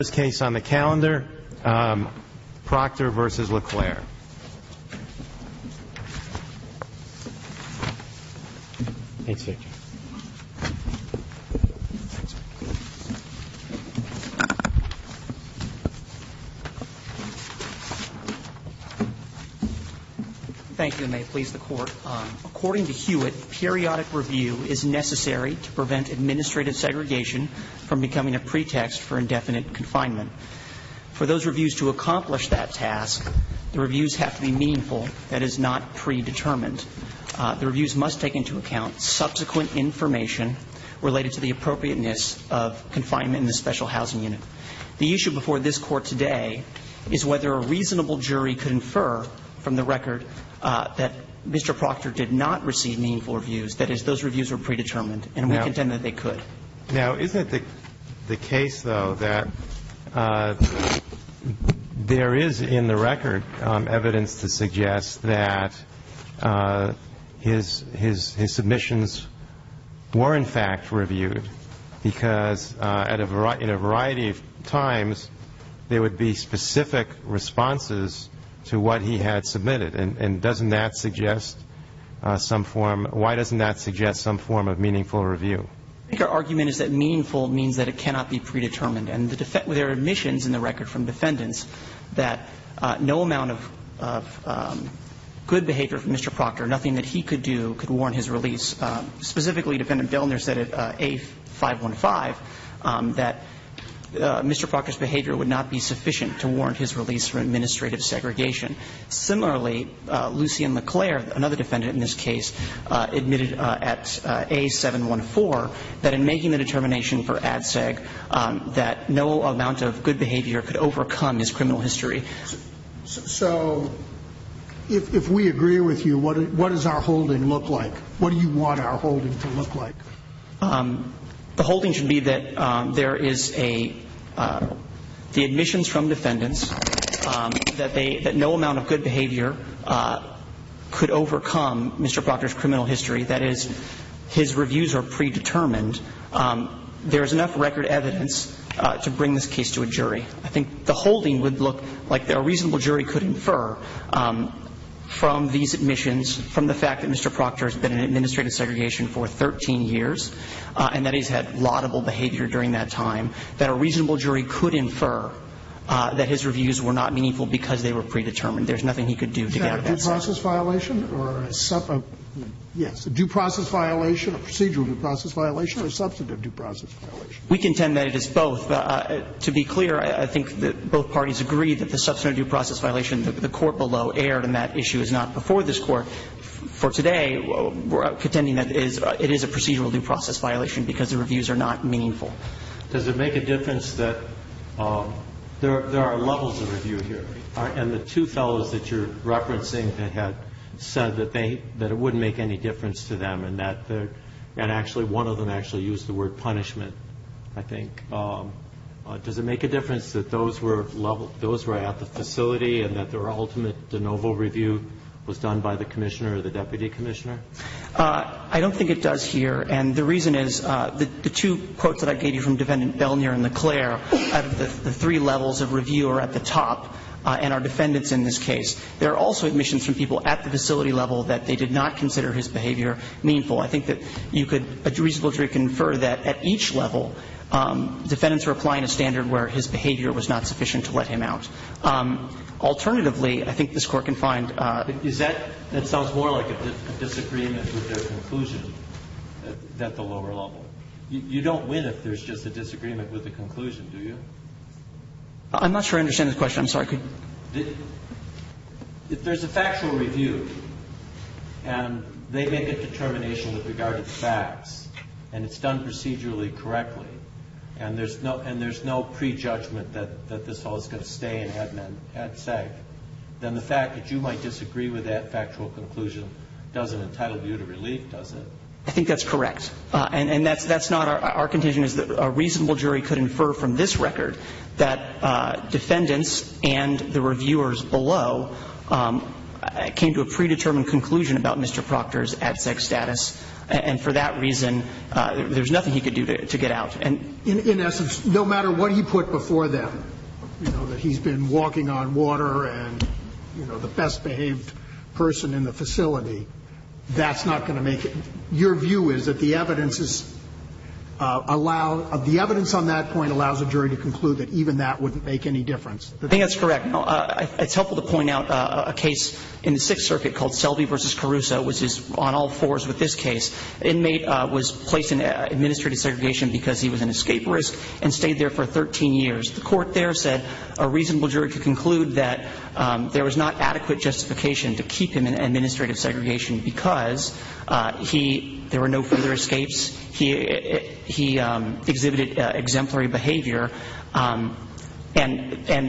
This case on the calendar, Proctor v. LeClaire. Thank you, and may it please the Court. According to Hewitt, periodic review is necessary to prevent administrative segregation from becoming a pretext for indefinite confinement. For those reviews to accomplish that task, the reviews have to be meaningful, that is not predetermined. The reviews must take into account subsequent information related to the appropriateness of confinement in the special housing unit. The issue before this Court today is whether a reasonable jury could infer from the record that Mr. Proctor did not receive meaningful reviews, that is, those reviews were predetermined, and we contend that they could. Now, isn't it the case, though, that there is in the record evidence to suggest that his submissions were, in fact, reviewed? Because in a variety of times, there would be specific responses to what he had submitted, and doesn't that suggest some form of meaningful review? I think our argument is that meaningful means that it cannot be predetermined. And there are admissions in the record from defendants that no amount of good behavior from Mr. Proctor, nothing that he could do could warrant his release. Specifically, Defendant Delner said at A515 that Mr. Proctor's behavior would not be sufficient to warrant his release from administrative segregation. Similarly, Lucien Leclerc, another defendant in this case, admitted at A714 that in making the determination for ADSEG that no amount of good behavior could overcome his criminal history. So if we agree with you, what does our holding look like? What do you want our holding to look like? The holding should be that there is a, the admissions from defendants, that they, that no amount of good behavior could overcome Mr. Proctor's criminal history. That is, his reviews are predetermined. There is enough record evidence to bring this case to a jury. I think the holding would look like a reasonable jury could infer from these admissions, from the fact that Mr. Proctor has been in administrative segregation for 13 years, and that he's had laudable behavior during that time, that a reasonable jury could infer that his reviews were not meaningful because they were predetermined. There's nothing he could do to get out of that situation. Is that a due process violation or a, yes, a due process violation, a procedural due process violation, or a substantive due process violation? We contend that it is both. To be clear, I think that both parties agree that the substantive due process violation, the court below erred, and that issue is not before this Court. For today, we're contending that it is a procedural due process violation because the reviews are not meaningful. Does it make a difference that there are levels of review here? And the two fellows that you're referencing that had said that they, that it wouldn't make any difference to them, and that actually one of them actually used the word punishment, I think. Does it make a difference that those were at the facility and that their ultimate de novo review was done by the commissioner or the deputy commissioner? I don't think it does here. And the reason is the two quotes that I gave you from Defendant Belnier and LeClaire, the three levels of review are at the top, and are defendants in this case. There are also admissions from people at the facility level that they did not consider his behavior meaningful. I think that you could reasonably infer that at each level defendants were applying a standard where his behavior was not sufficient to let him out. Alternatively, I think this Court can find. Is that, that sounds more like a disagreement with their conclusion at the lower level. You don't win if there's just a disagreement with the conclusion, do you? I'm not sure I understand the question. I'm sorry. If there's a factual review, and they make a determination with regard to the facts, and it's done procedurally correctly, and there's no prejudgment that this all is going to stay in Hedman, then the fact that you might disagree with that factual conclusion doesn't entitle you to relief, does it? I think that's correct. And that's not our contention, is that a reasonable jury could infer from this record that defendants and the reviewers below came to a predetermined conclusion about Mr. Proctor's absent status, and for that reason there's nothing he could do to get out. In essence, no matter what he put before them, you know, that he's been walking on water and, you know, the best behaved person in the facility, that's not going to make it. Your view is that the evidence is allow – the evidence on that point allows a jury to conclude that even that wouldn't make any difference. I think that's correct. It's helpful to point out a case in the Sixth Circuit called Selby v. Caruso, which is on all fours with this case. The inmate was placed in administrative segregation because he was an escape risk and stayed there for 13 years. The court there said a reasonable jury could conclude that there was not adequate justification to keep him in administrative segregation because he – there were no further escapes, he exhibited exemplary behavior, and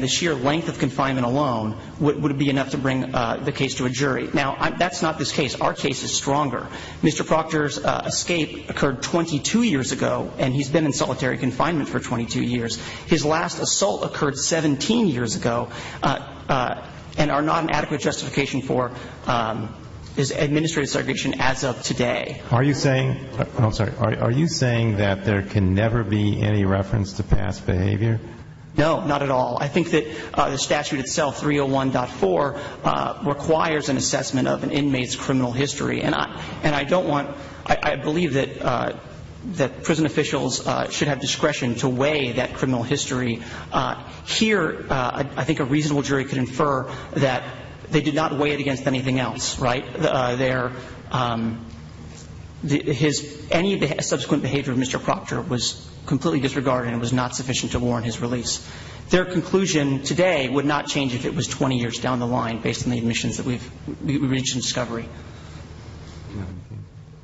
the sheer length of confinement alone would be enough to bring the case to a jury. Now, that's not this case. Our case is stronger. Mr. Proctor's escape occurred 22 years ago, and he's been in solitary confinement for 22 years. His last assault occurred 17 years ago and are not an adequate justification for his administrative segregation as of today. Are you saying – I'm sorry. Are you saying that there can never be any reference to past behavior? No, not at all. I think that the statute itself, 301.4, requires an assessment of an inmate's criminal history. And I don't want – I believe that prison officials should have discretion to weigh that criminal history. Here, I think a reasonable jury could infer that they did not weigh it against anything else, right? Their – his – any subsequent behavior of Mr. Proctor was completely disregarded and was not sufficient to warrant his release. Their conclusion today would not change if it was 20 years down the line, based on the admissions that we've – we've reached in discovery.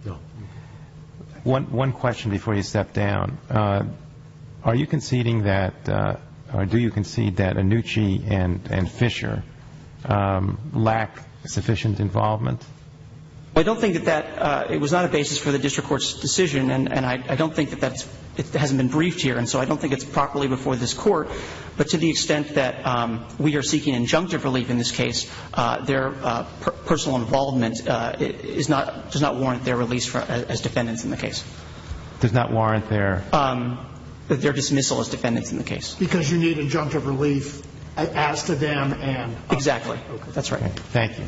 No. One question before you step down. Are you conceding that – or do you concede that Annucci and Fisher lack sufficient involvement? I don't think that that – it was not a basis for the district court's decision, and I don't think that that's – it hasn't been briefed here. And so I don't think it's properly before this Court. But to the extent that we are seeking injunctive relief in this case, their personal involvement is not – does not warrant their release as defendants in the case. Does not warrant their – Their dismissal as defendants in the case. Because you need injunctive relief as to them and – Exactly. That's right. Thank you.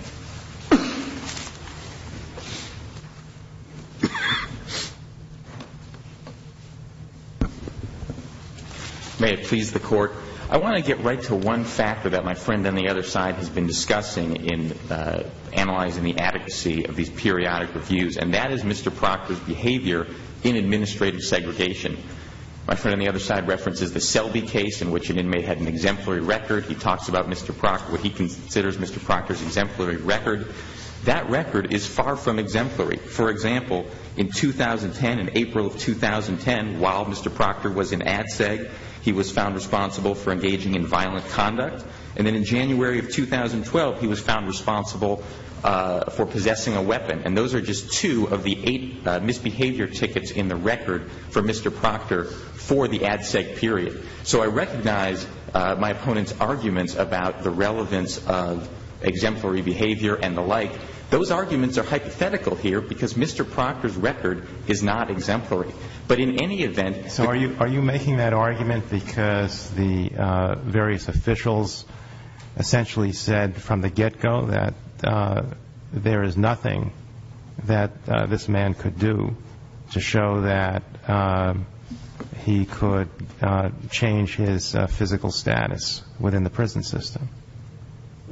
May it please the Court, I want to get right to one factor that my friend on the other side has been discussing in analyzing the adequacy of these periodic reviews, and that is Mr. Proctor's behavior in administrative segregation. My friend on the other side references the Selby case in which an inmate had an exemplary record. He talks about Mr. Proctor – what he considers Mr. Proctor's exemplary record. That record is far from exemplary. For example, in 2010, in April of 2010, while Mr. Proctor was in ADSEG, he was found responsible for engaging in violent conduct. And then in January of 2012, he was found responsible for possessing a weapon. And those are just two of the eight misbehavior tickets in the record for Mr. Proctor for the ADSEG period. So I recognize my opponent's arguments about the relevance of exemplary behavior and the like. Those arguments are hypothetical here because Mr. Proctor's record is not exemplary. But in any event – So are you making that argument because the various officials essentially said from the get-go that there is nothing that this man could do to show that he could change his physical status within the prison system?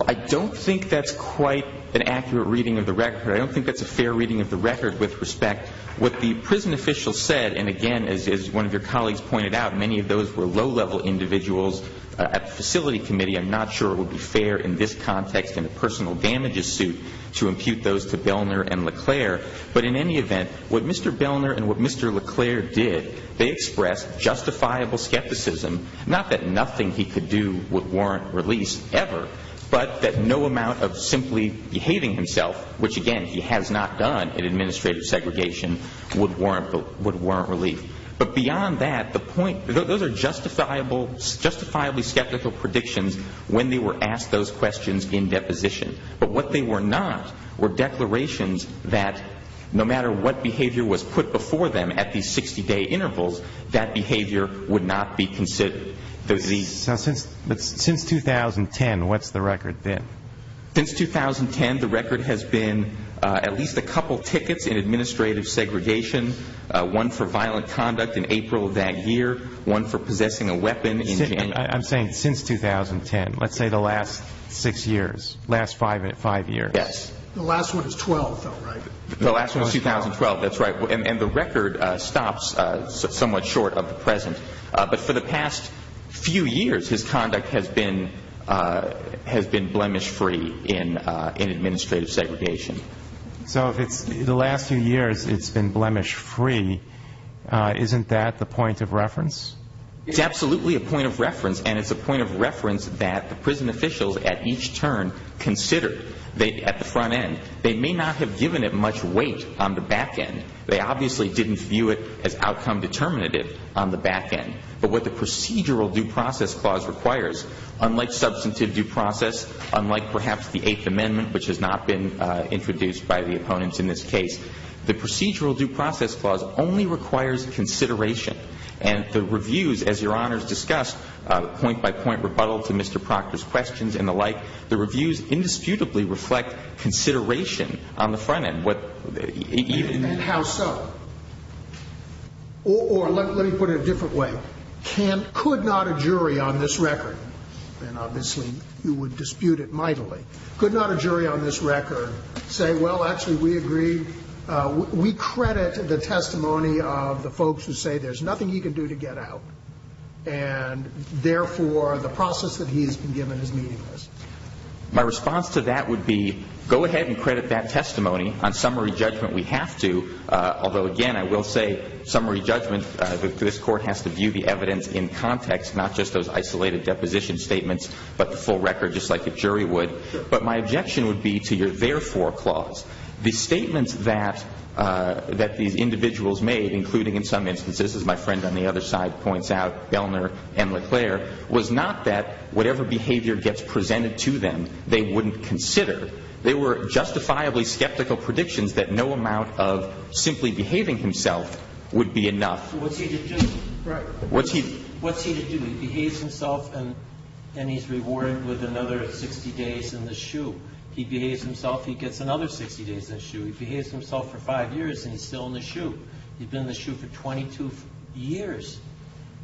I don't think that's quite an accurate reading of the record. I don't think that's a fair reading of the record with respect. What the prison officials said, and again, as one of your colleagues pointed out, many of those were low-level individuals at the facility committee. I'm not sure it would be fair in this context in a personal damages suit to impute those to Belner and LeClerc. But in any event, what Mr. Belner and what Mr. LeClerc did, they expressed justifiable skepticism, not that nothing he could do would warrant release ever, but that no amount of simply behaving himself, which, again, he has not done in administrative segregation, would warrant relief. But beyond that, the point – those are justifiably skeptical predictions when they were asked those questions in deposition. But what they were not were declarations that no matter what behavior was put before them at these 60-day intervals, that behavior would not be considered. But since 2010, what's the record been? Since 2010, the record has been at least a couple tickets in administrative segregation, one for violent conduct in April of that year, one for possessing a weapon in January. I'm saying since 2010. Let's say the last six years, last five years. Yes. The last one is 2012, if I'm right. The last one is 2012. That's right. And the record stops somewhat short of the present. But for the past few years, his conduct has been blemish-free in administrative segregation. So the last few years it's been blemish-free. Isn't that the point of reference? It's absolutely a point of reference, and it's a point of reference that the prison officials at each turn considered at the front end. They may not have given it much weight on the back end. They obviously didn't view it as outcome determinative on the back end. But what the procedural due process clause requires, unlike substantive due process, unlike perhaps the Eighth Amendment, which has not been introduced by the opponents in this case, the procedural due process clause only requires consideration. And the reviews, as Your Honors discussed, point-by-point rebuttal to Mr. Proctor's questions and the like, the reviews indisputably reflect consideration on the front end. And how so? Or let me put it a different way. Could not a jury on this record, and obviously you would dispute it mightily, could not a jury on this record say, well, actually, we agree, we credit the testimony of the folks who say there's nothing he can do to get out, and therefore the process that he has been given is meaningless? My response to that would be go ahead and credit that testimony. On summary judgment, we have to. Although, again, I will say summary judgment, this Court has to view the evidence in context, not just those isolated deposition statements, but the full record, just like a jury would. But my objection would be to your therefore clause. The statements that these individuals made, including in some instances, as my friend on the other side points out, Gellner and LeClaire, was not that whatever behavior gets presented to them, they wouldn't consider. They were justifiably skeptical predictions that no amount of simply behaving himself would be enough. So what's he to do? Right. What's he to do? He behaves himself and he's rewarded with another 60 days in the shoe. He behaves himself, he gets another 60 days in the shoe. He behaves himself for five years and he's still in the shoe. He's been in the shoe for 22 years,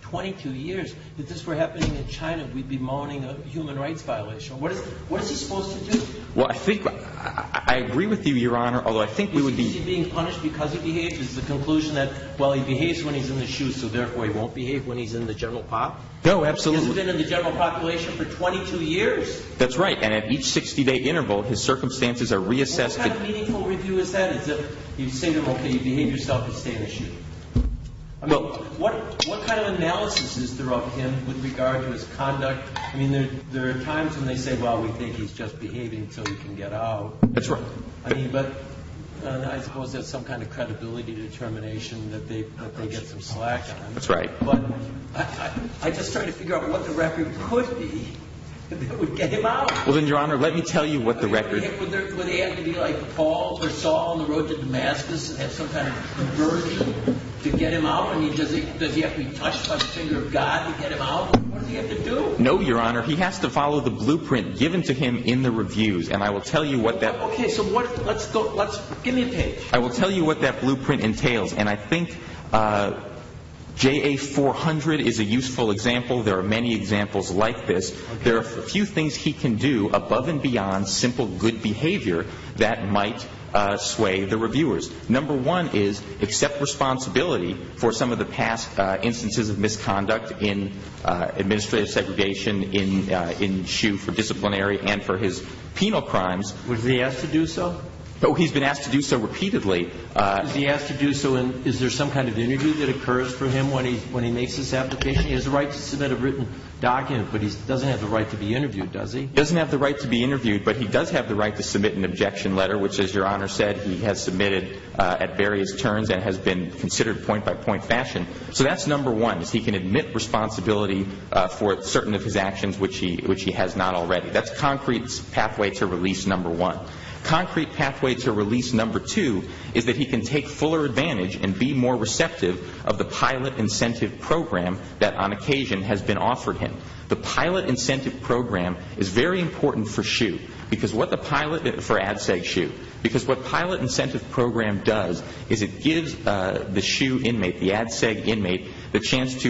22 years. If this were happening in China, we'd be moaning a human rights violation. What is he supposed to do? Well, I think I agree with you, Your Honor, although I think we would be. Is he being punished because he behaves? Is the conclusion that, well, he behaves when he's in the shoe, so therefore he won't behave when he's in the general population? No, absolutely. He hasn't been in the general population for 22 years. That's right. And at each 60-day interval, his circumstances are reassessed. What kind of meaningful review is that, as if you say to him, okay, you behave yourself, you stay in the shoe? I mean, what kind of analysis is there of him with regard to his conduct? I mean, there are times when they say, well, we think he's just behaving until he can get out. That's right. I mean, but I suppose that's some kind of credibility determination that they get some slack on. That's right. But I just try to figure out what the record could be that would get him out. Well, then, Your Honor, let me tell you what the record is. Would he have to be like Paul or Saul on the road to Damascus and have some kind of conversion to get him out? I mean, does he have to be touched by the finger of God to get him out? What does he have to do? No, Your Honor. He has to follow the blueprint given to him in the reviews. And I will tell you what that – Okay, so what – let's go – let's – give me a page. I will tell you what that blueprint entails. And I think JA-400 is a useful example. There are many examples like this. There are a few things he can do above and beyond simple good behavior that might sway the reviewers. Number one is accept responsibility for some of the past instances of misconduct in administrative segregation, in SHU for disciplinary and for his penal crimes. Was he asked to do so? Oh, he's been asked to do so repeatedly. Was he asked to do so? And is there some kind of interview that occurs for him when he makes this application? He has the right to submit a written document, but he doesn't have the right to be interviewed, does he? He doesn't have the right to be interviewed, but he does have the right to submit an objection letter, which, as Your Honor said, he has submitted at various turns and has been considered point-by-point fashion. So that's number one, is he can admit responsibility for certain of his actions, which he has not already. That's concrete pathway to release number one. Concrete pathway to release number two is that he can take fuller advantage and be more receptive of the pilot incentive program that, on occasion, has been offered him. The pilot incentive program is very important for SHU. Because what the pilot incentive program does is it gives the SHU inmate, the Ad Seg inmate, the chance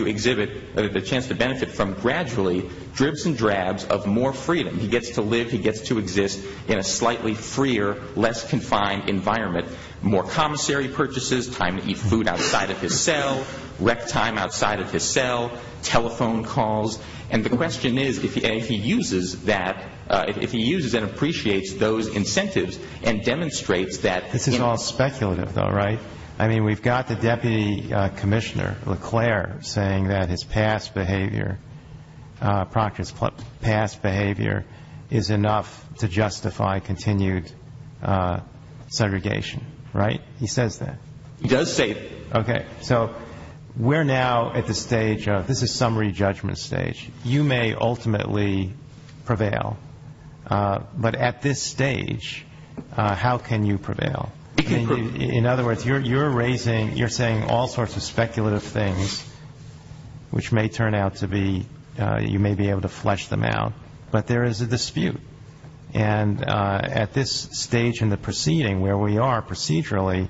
to benefit from gradually dribs and drabs of more freedom. He gets to live, he gets to exist in a slightly freer, less confined environment. More commissary purchases, time to eat food outside of his cell, rec time outside of his cell, telephone calls, and the question is if he uses that, if he uses and appreciates those incentives and demonstrates that. This is all speculative, though, right? I mean, we've got the deputy commissioner, LeClaire, saying that his past behavior, Proctor's past behavior, is enough to justify continued segregation, right? He says that. He does say that. Okay. So we're now at the stage of, this is summary judgment stage. You may ultimately prevail, but at this stage, how can you prevail? In other words, you're raising, you're saying all sorts of speculative things, which may turn out to be, you may be able to flesh them out, but there is a dispute. And at this stage in the proceeding where we are procedurally,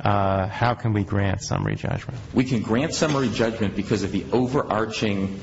how can we grant summary judgment? We can grant summary judgment because of the overarching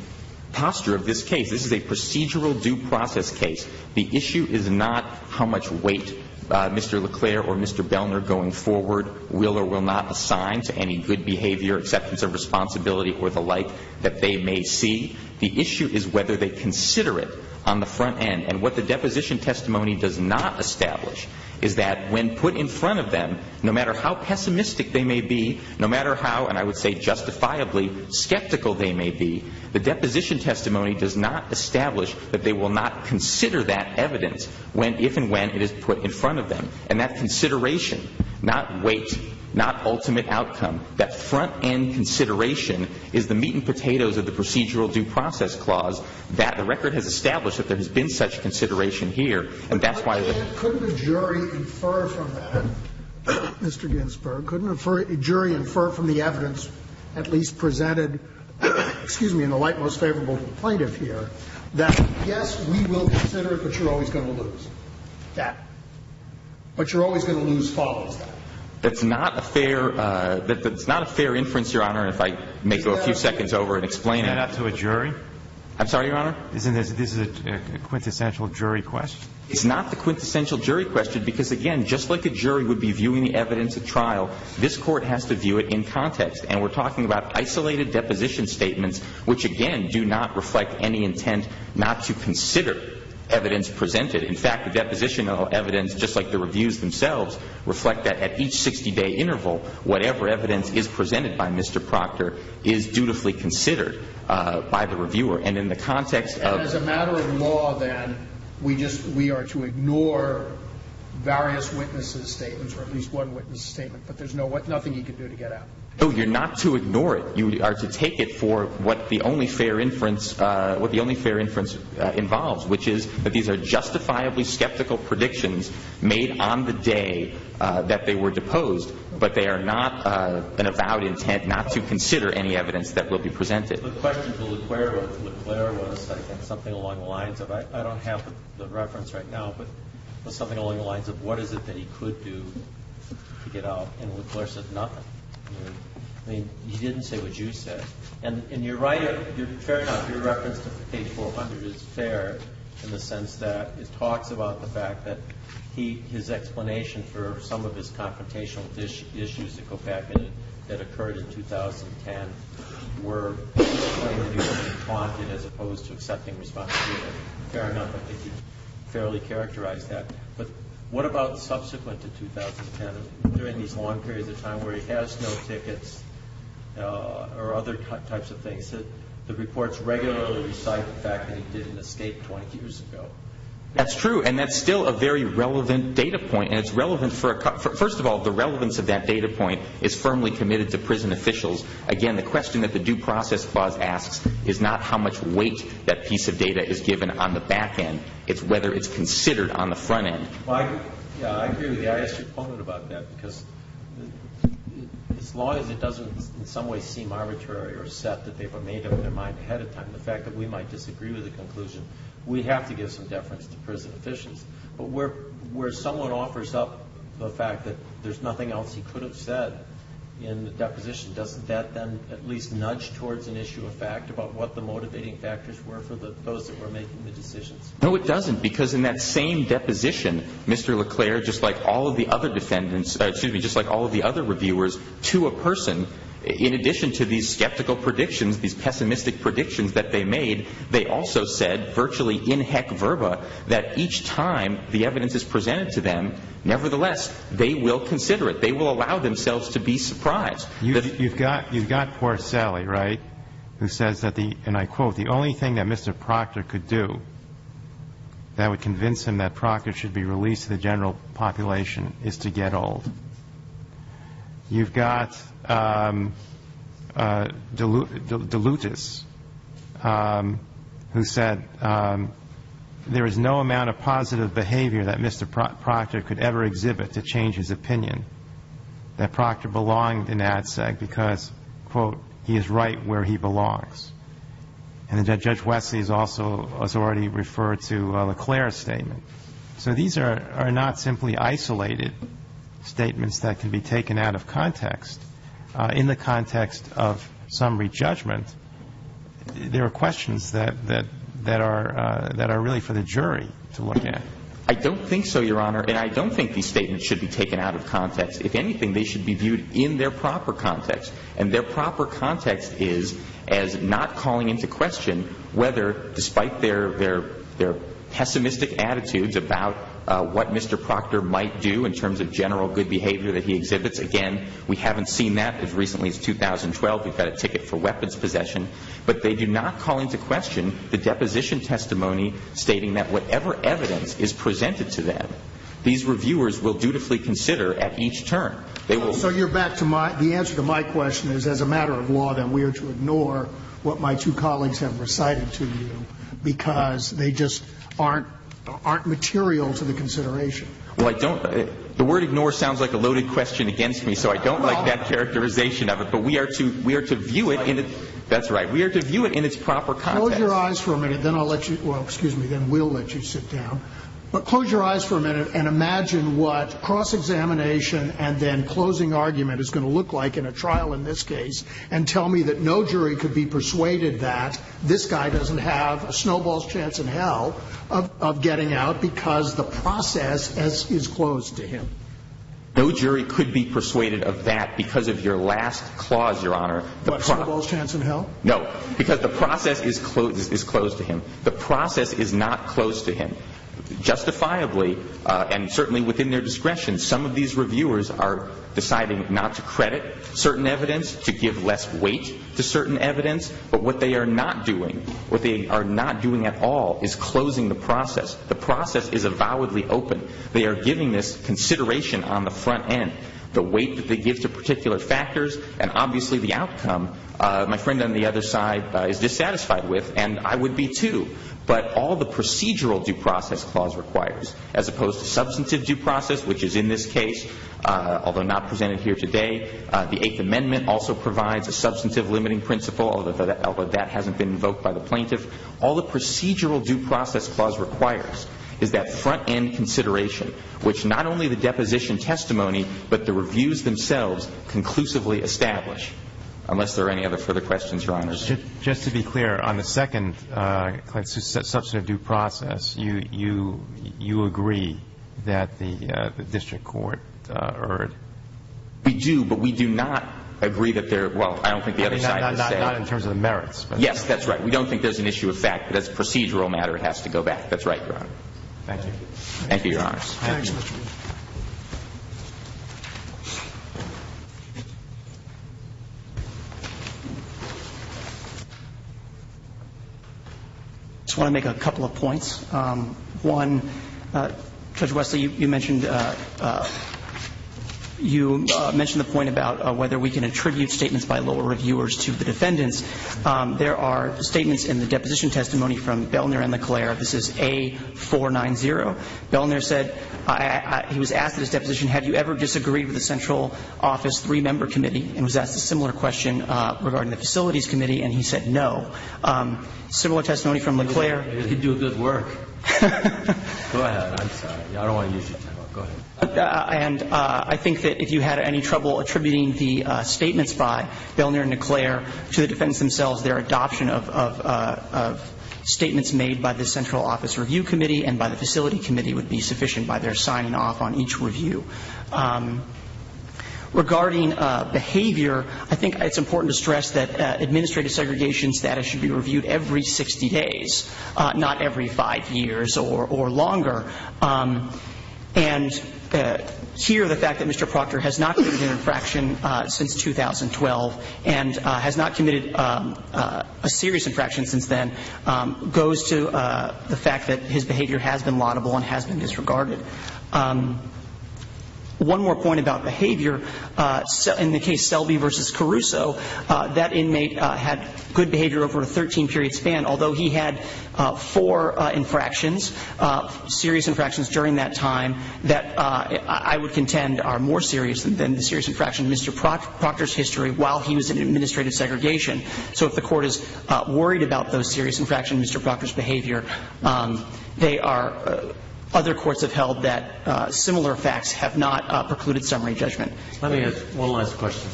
posture of this case. This is a procedural due process case. The issue is not how much weight Mr. LeClaire or Mr. Belner going forward will or will not assign to any good behavior, acceptance of responsibility, or the like that they may see. The issue is whether they consider it on the front end. And what the deposition testimony does not establish is that when put in front of them, no matter how pessimistic they may be, no matter how, and I would say justifiably, skeptical they may be, the deposition testimony does not establish that they will not consider that evidence when, if and when, it is put in front of them. And that consideration, not weight, not ultimate outcome, that front-end consideration is the meat and potatoes of the procedural due process clause that the record has established that there has been such consideration here. And that's why the ---- Couldn't a jury infer from that, Mr. Ginsburg, couldn't a jury infer from the evidence at least presented, excuse me, in the light most favorable to the plaintiff here, that yes, we will consider it, but you're always going to lose? That. But you're always going to lose follows that. That's not a fair ---- That's not a fair inference, Your Honor, if I may go a few seconds over and explain it. Is that up to a jury? I'm sorry, Your Honor? Isn't this a quintessential jury question? It's not the quintessential jury question because, again, just like a jury would be viewing the evidence at trial, this Court has to view it in context. And we're talking about isolated deposition statements, which, again, do not reflect any intent not to consider evidence presented. In fact, the depositional evidence, just like the reviews themselves, reflect that at each 60-day interval, whatever evidence is presented by Mr. Proctor is dutifully considered by the reviewer. And in the context of ---- And as a matter of law, then, we just ---- we are to ignore various witnesses' statements or at least one witness' statement, but there's no ---- nothing you can do to get at. No, you're not to ignore it. You are to take it for what the only fair inference ---- what the only fair inference involves, which is that these are justifiably skeptical predictions made on the day that they were deposed, but they are not an avowed intent not to consider any evidence that will be presented. The question to LeClerc was, I think, something along the lines of ---- I don't have the reference right now, but something along the lines of what is it that he could do to get out? And LeClerc said nothing. I mean, he didn't say what you said. And you're right. You're ---- fair enough. Your reference to page 400 is fair in the sense that it talks about the fact that he ---- his explanation for some of his confrontational issues that go back in it that occurred in 2010 were the way that he was being taunted as opposed to accepting responsibility. Fair enough. I think you fairly characterized that. But what about subsequent to 2010? During these long periods of time where he has no tickets or other types of things, the reports regularly recite the fact that he didn't escape 20 years ago. That's true. And that's still a very relevant data point. And it's relevant for ---- first of all, the relevance of that data point is firmly committed to prison officials. Again, the question that the due process clause asks is not how much weight that piece of data is given on the back end. It's whether it's considered on the front end. I agree with you. I asked you a point about that because as long as it doesn't in some way seem arbitrary or set that they've made up their mind ahead of time, the fact that we might disagree with the conclusion, we have to give some deference to prison officials. But where someone offers up the fact that there's nothing else he could have said in the deposition, doesn't that then at least nudge towards an issue of fact about what the motivating factors were for those that were making the decisions? No, it doesn't. Because in that same deposition, Mr. LeClair, just like all of the other defendants ---- excuse me, just like all of the other reviewers to a person, in addition to these skeptical predictions, these pessimistic predictions that they made, they also said virtually in heck verba that each time the evidence is presented to them, nevertheless, they will consider it. They will allow themselves to be surprised. You've got poor Sally, right, who says that the ---- and I quote, the only thing that Mr. Proctor could do that would convince him that Proctor should be released to the general population is to get old. You've got DeLutis, who said there is no amount of positive behavior that Mr. Proctor could ever exhibit to change his opinion, that Proctor belonged in ADSEG because, quote, he is right where he belongs. And Judge Wesley also has already referred to LeClair's statement. So these are not simply isolated statements that can be taken out of context. In the context of summary judgment, there are questions that are really for the jury to look at. I don't think so, Your Honor. If anything, they should be viewed in their proper context. And their proper context is as not calling into question whether, despite their pessimistic attitudes about what Mr. Proctor might do in terms of general good behavior that he exhibits, again, we haven't seen that as recently as 2012. We've got a ticket for weapons possession. But they do not call into question the deposition testimony stating that whatever evidence is presented to them, these reviewers will dutifully consider at each turn. So the answer to my question is, as a matter of law, then we are to ignore what my two colleagues have recited to you because they just aren't material to the consideration. Well, the word ignore sounds like a loaded question against me. So I don't like that characterization of it. But we are to view it in its proper context. Close your eyes for a minute. Then I'll let you – well, excuse me. Then we'll let you sit down. But close your eyes for a minute and imagine what cross-examination and then closing argument is going to look like in a trial in this case and tell me that no jury could be persuaded that this guy doesn't have a snowball's chance in hell of getting out because the process is closed to him. No jury could be persuaded of that because of your last clause, Your Honor. What, snowball's chance in hell? No. Because the process is closed to him. The process is not closed to him. Justifiably and certainly within their discretion, some of these reviewers are deciding not to credit certain evidence, to give less weight to certain evidence. But what they are not doing, what they are not doing at all is closing the process. The process is avowedly open. They are giving this consideration on the front end. The weight that they give to particular factors and obviously the outcome. My friend on the other side is dissatisfied with and I would be too. But all the procedural due process clause requires as opposed to substantive due process, which is in this case, although not presented here today. The Eighth Amendment also provides a substantive limiting principle, although that hasn't been invoked by the plaintiff. All the procedural due process clause requires is that front end consideration, which not only the deposition testimony but the reviews themselves conclusively establish, unless there are any other further questions, Your Honors. Just to be clear, on the second substantive due process, you agree that the district court erred? We do, but we do not agree that there are, well, I don't think the other side would say. Not in terms of the merits. Yes, that's right. We don't think there's an issue of fact, but as a procedural matter, it has to go back. That's right, Your Honor. Thank you. Thank you, Your Honors. Thank you. I just want to make a couple of points. One, Judge Wesley, you mentioned the point about whether we can attribute statements by lower reviewers to the defendants. There are statements in the deposition testimony from Belner and LeClaire. This is A490. Belner said, he was asked at his deposition, have you ever disagreed with the central office three-member committee, and was asked a similar question regarding the facilities committee, and he said no. Similar testimony from LeClaire. You can do good work. Go ahead. I'm sorry. I don't want to use your time up. Go ahead. And I think that if you had any trouble attributing the statements by Belner and LeClaire to the defendants themselves, their adoption of statements made by the central office review committee and by the facility committee would be sufficient by their signing off on each review. Regarding behavior, I think it's important to stress that administrative segregation status should be reviewed every 60 days, not every five years or longer. And here the fact that Mr. Proctor has not committed an infraction since 2012 and has not committed a serious infraction since then goes to the fact that his behavior has been laudable and has been disregarded. One more point about behavior. In the case Selby v. Caruso, that inmate had good behavior over a 13-period span, although he had four infractions, serious infractions during that time that I would contend are more serious than the serious infraction in Mr. Proctor's history while he was in administrative segregation. So if the court is worried about those serious infractions in Mr. Proctor's behavior, they are other courts have held that similar facts have not precluded summary judgment. Let me ask one last question.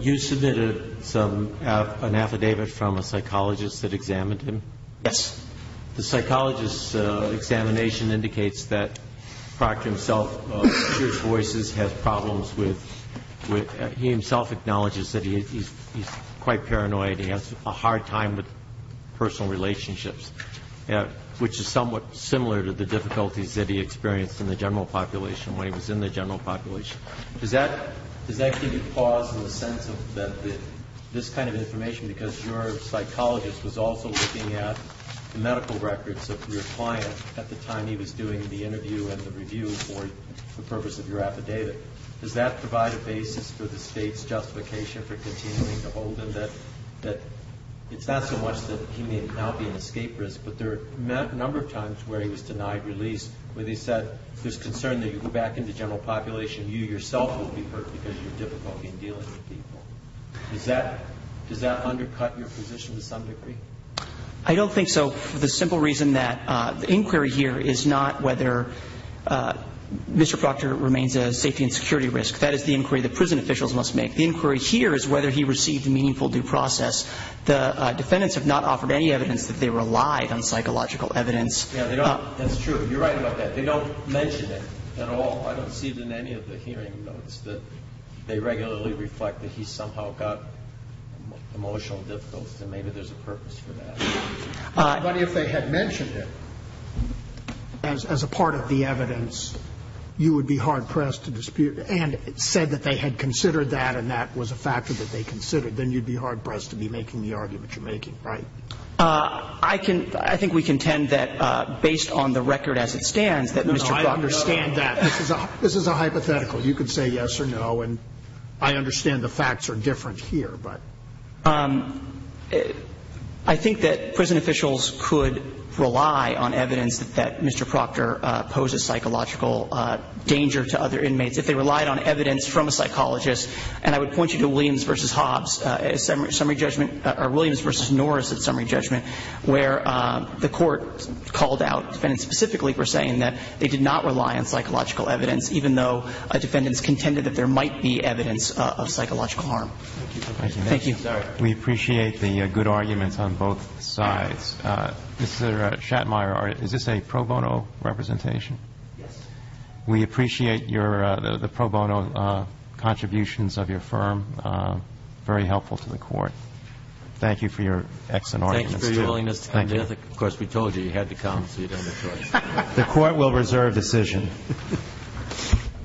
You submitted some, an affidavit from a psychologist that examined him? Yes. The psychologist's examination indicates that Proctor himself, of serious voices, has problems with, he himself acknowledges that he's quite paranoid, he has a hard time with personal relationships, which is somewhat similar to the difficulties that he experienced in the general population when he was in the general population. Does that give you pause in the sense that this kind of information, because your psychologist was also looking at the medical records of your client at the time he was doing the interview and the review for the purpose of your affidavit, does that provide a basis for the State's justification for continuing to hold him that it's not so much that he may now be an escape risk, but there are a number of times where he was denied release where they said there's concern that you go back into general population, you yourself will be hurt because of your difficulty in dealing with people. Does that undercut your position to some degree? I don't think so for the simple reason that the inquiry here is not whether Mr. Proctor remains a safety and security risk. That is the inquiry the prison officials must make. The inquiry here is whether he received a meaningful due process. The defendants have not offered any evidence that they relied on psychological evidence. That's true. You're right about that. They don't mention it at all. I don't see it in any of the hearing notes that they regularly reflect that he somehow got emotional difficulties, and maybe there's a purpose for that. But if they had mentioned it as a part of the evidence, you would be hard-pressed to dispute it. And said that they had considered that and that was a factor that they considered, then you'd be hard-pressed to be making the argument you're making, right? I can – I think we contend that based on the record as it stands that Mr. Proctor No, I understand that. This is a hypothetical. You can say yes or no, and I understand the facts are different here, but. I think that prison officials could rely on evidence that Mr. Proctor poses psychological danger to other inmates if they relied on evidence from a psychologist. And I would point you to Williams v. Hobbs' summary judgment, or Williams v. Norris' summary judgment, where the court called out defendants specifically for saying that they did not rely on psychological evidence, even though defendants contended that there might be evidence of psychological harm. Thank you. We appreciate the good arguments on both sides. Mr. Shatmire, is this a pro bono representation? Yes. We appreciate your – the pro bono contributions of your firm. Very helpful to the court. Thank you for your excellent argument. Thank you for your willingness to come to Ethic. Thank you. Of course, we told you you had to come, so you don't have a choice. The court will reserve decision.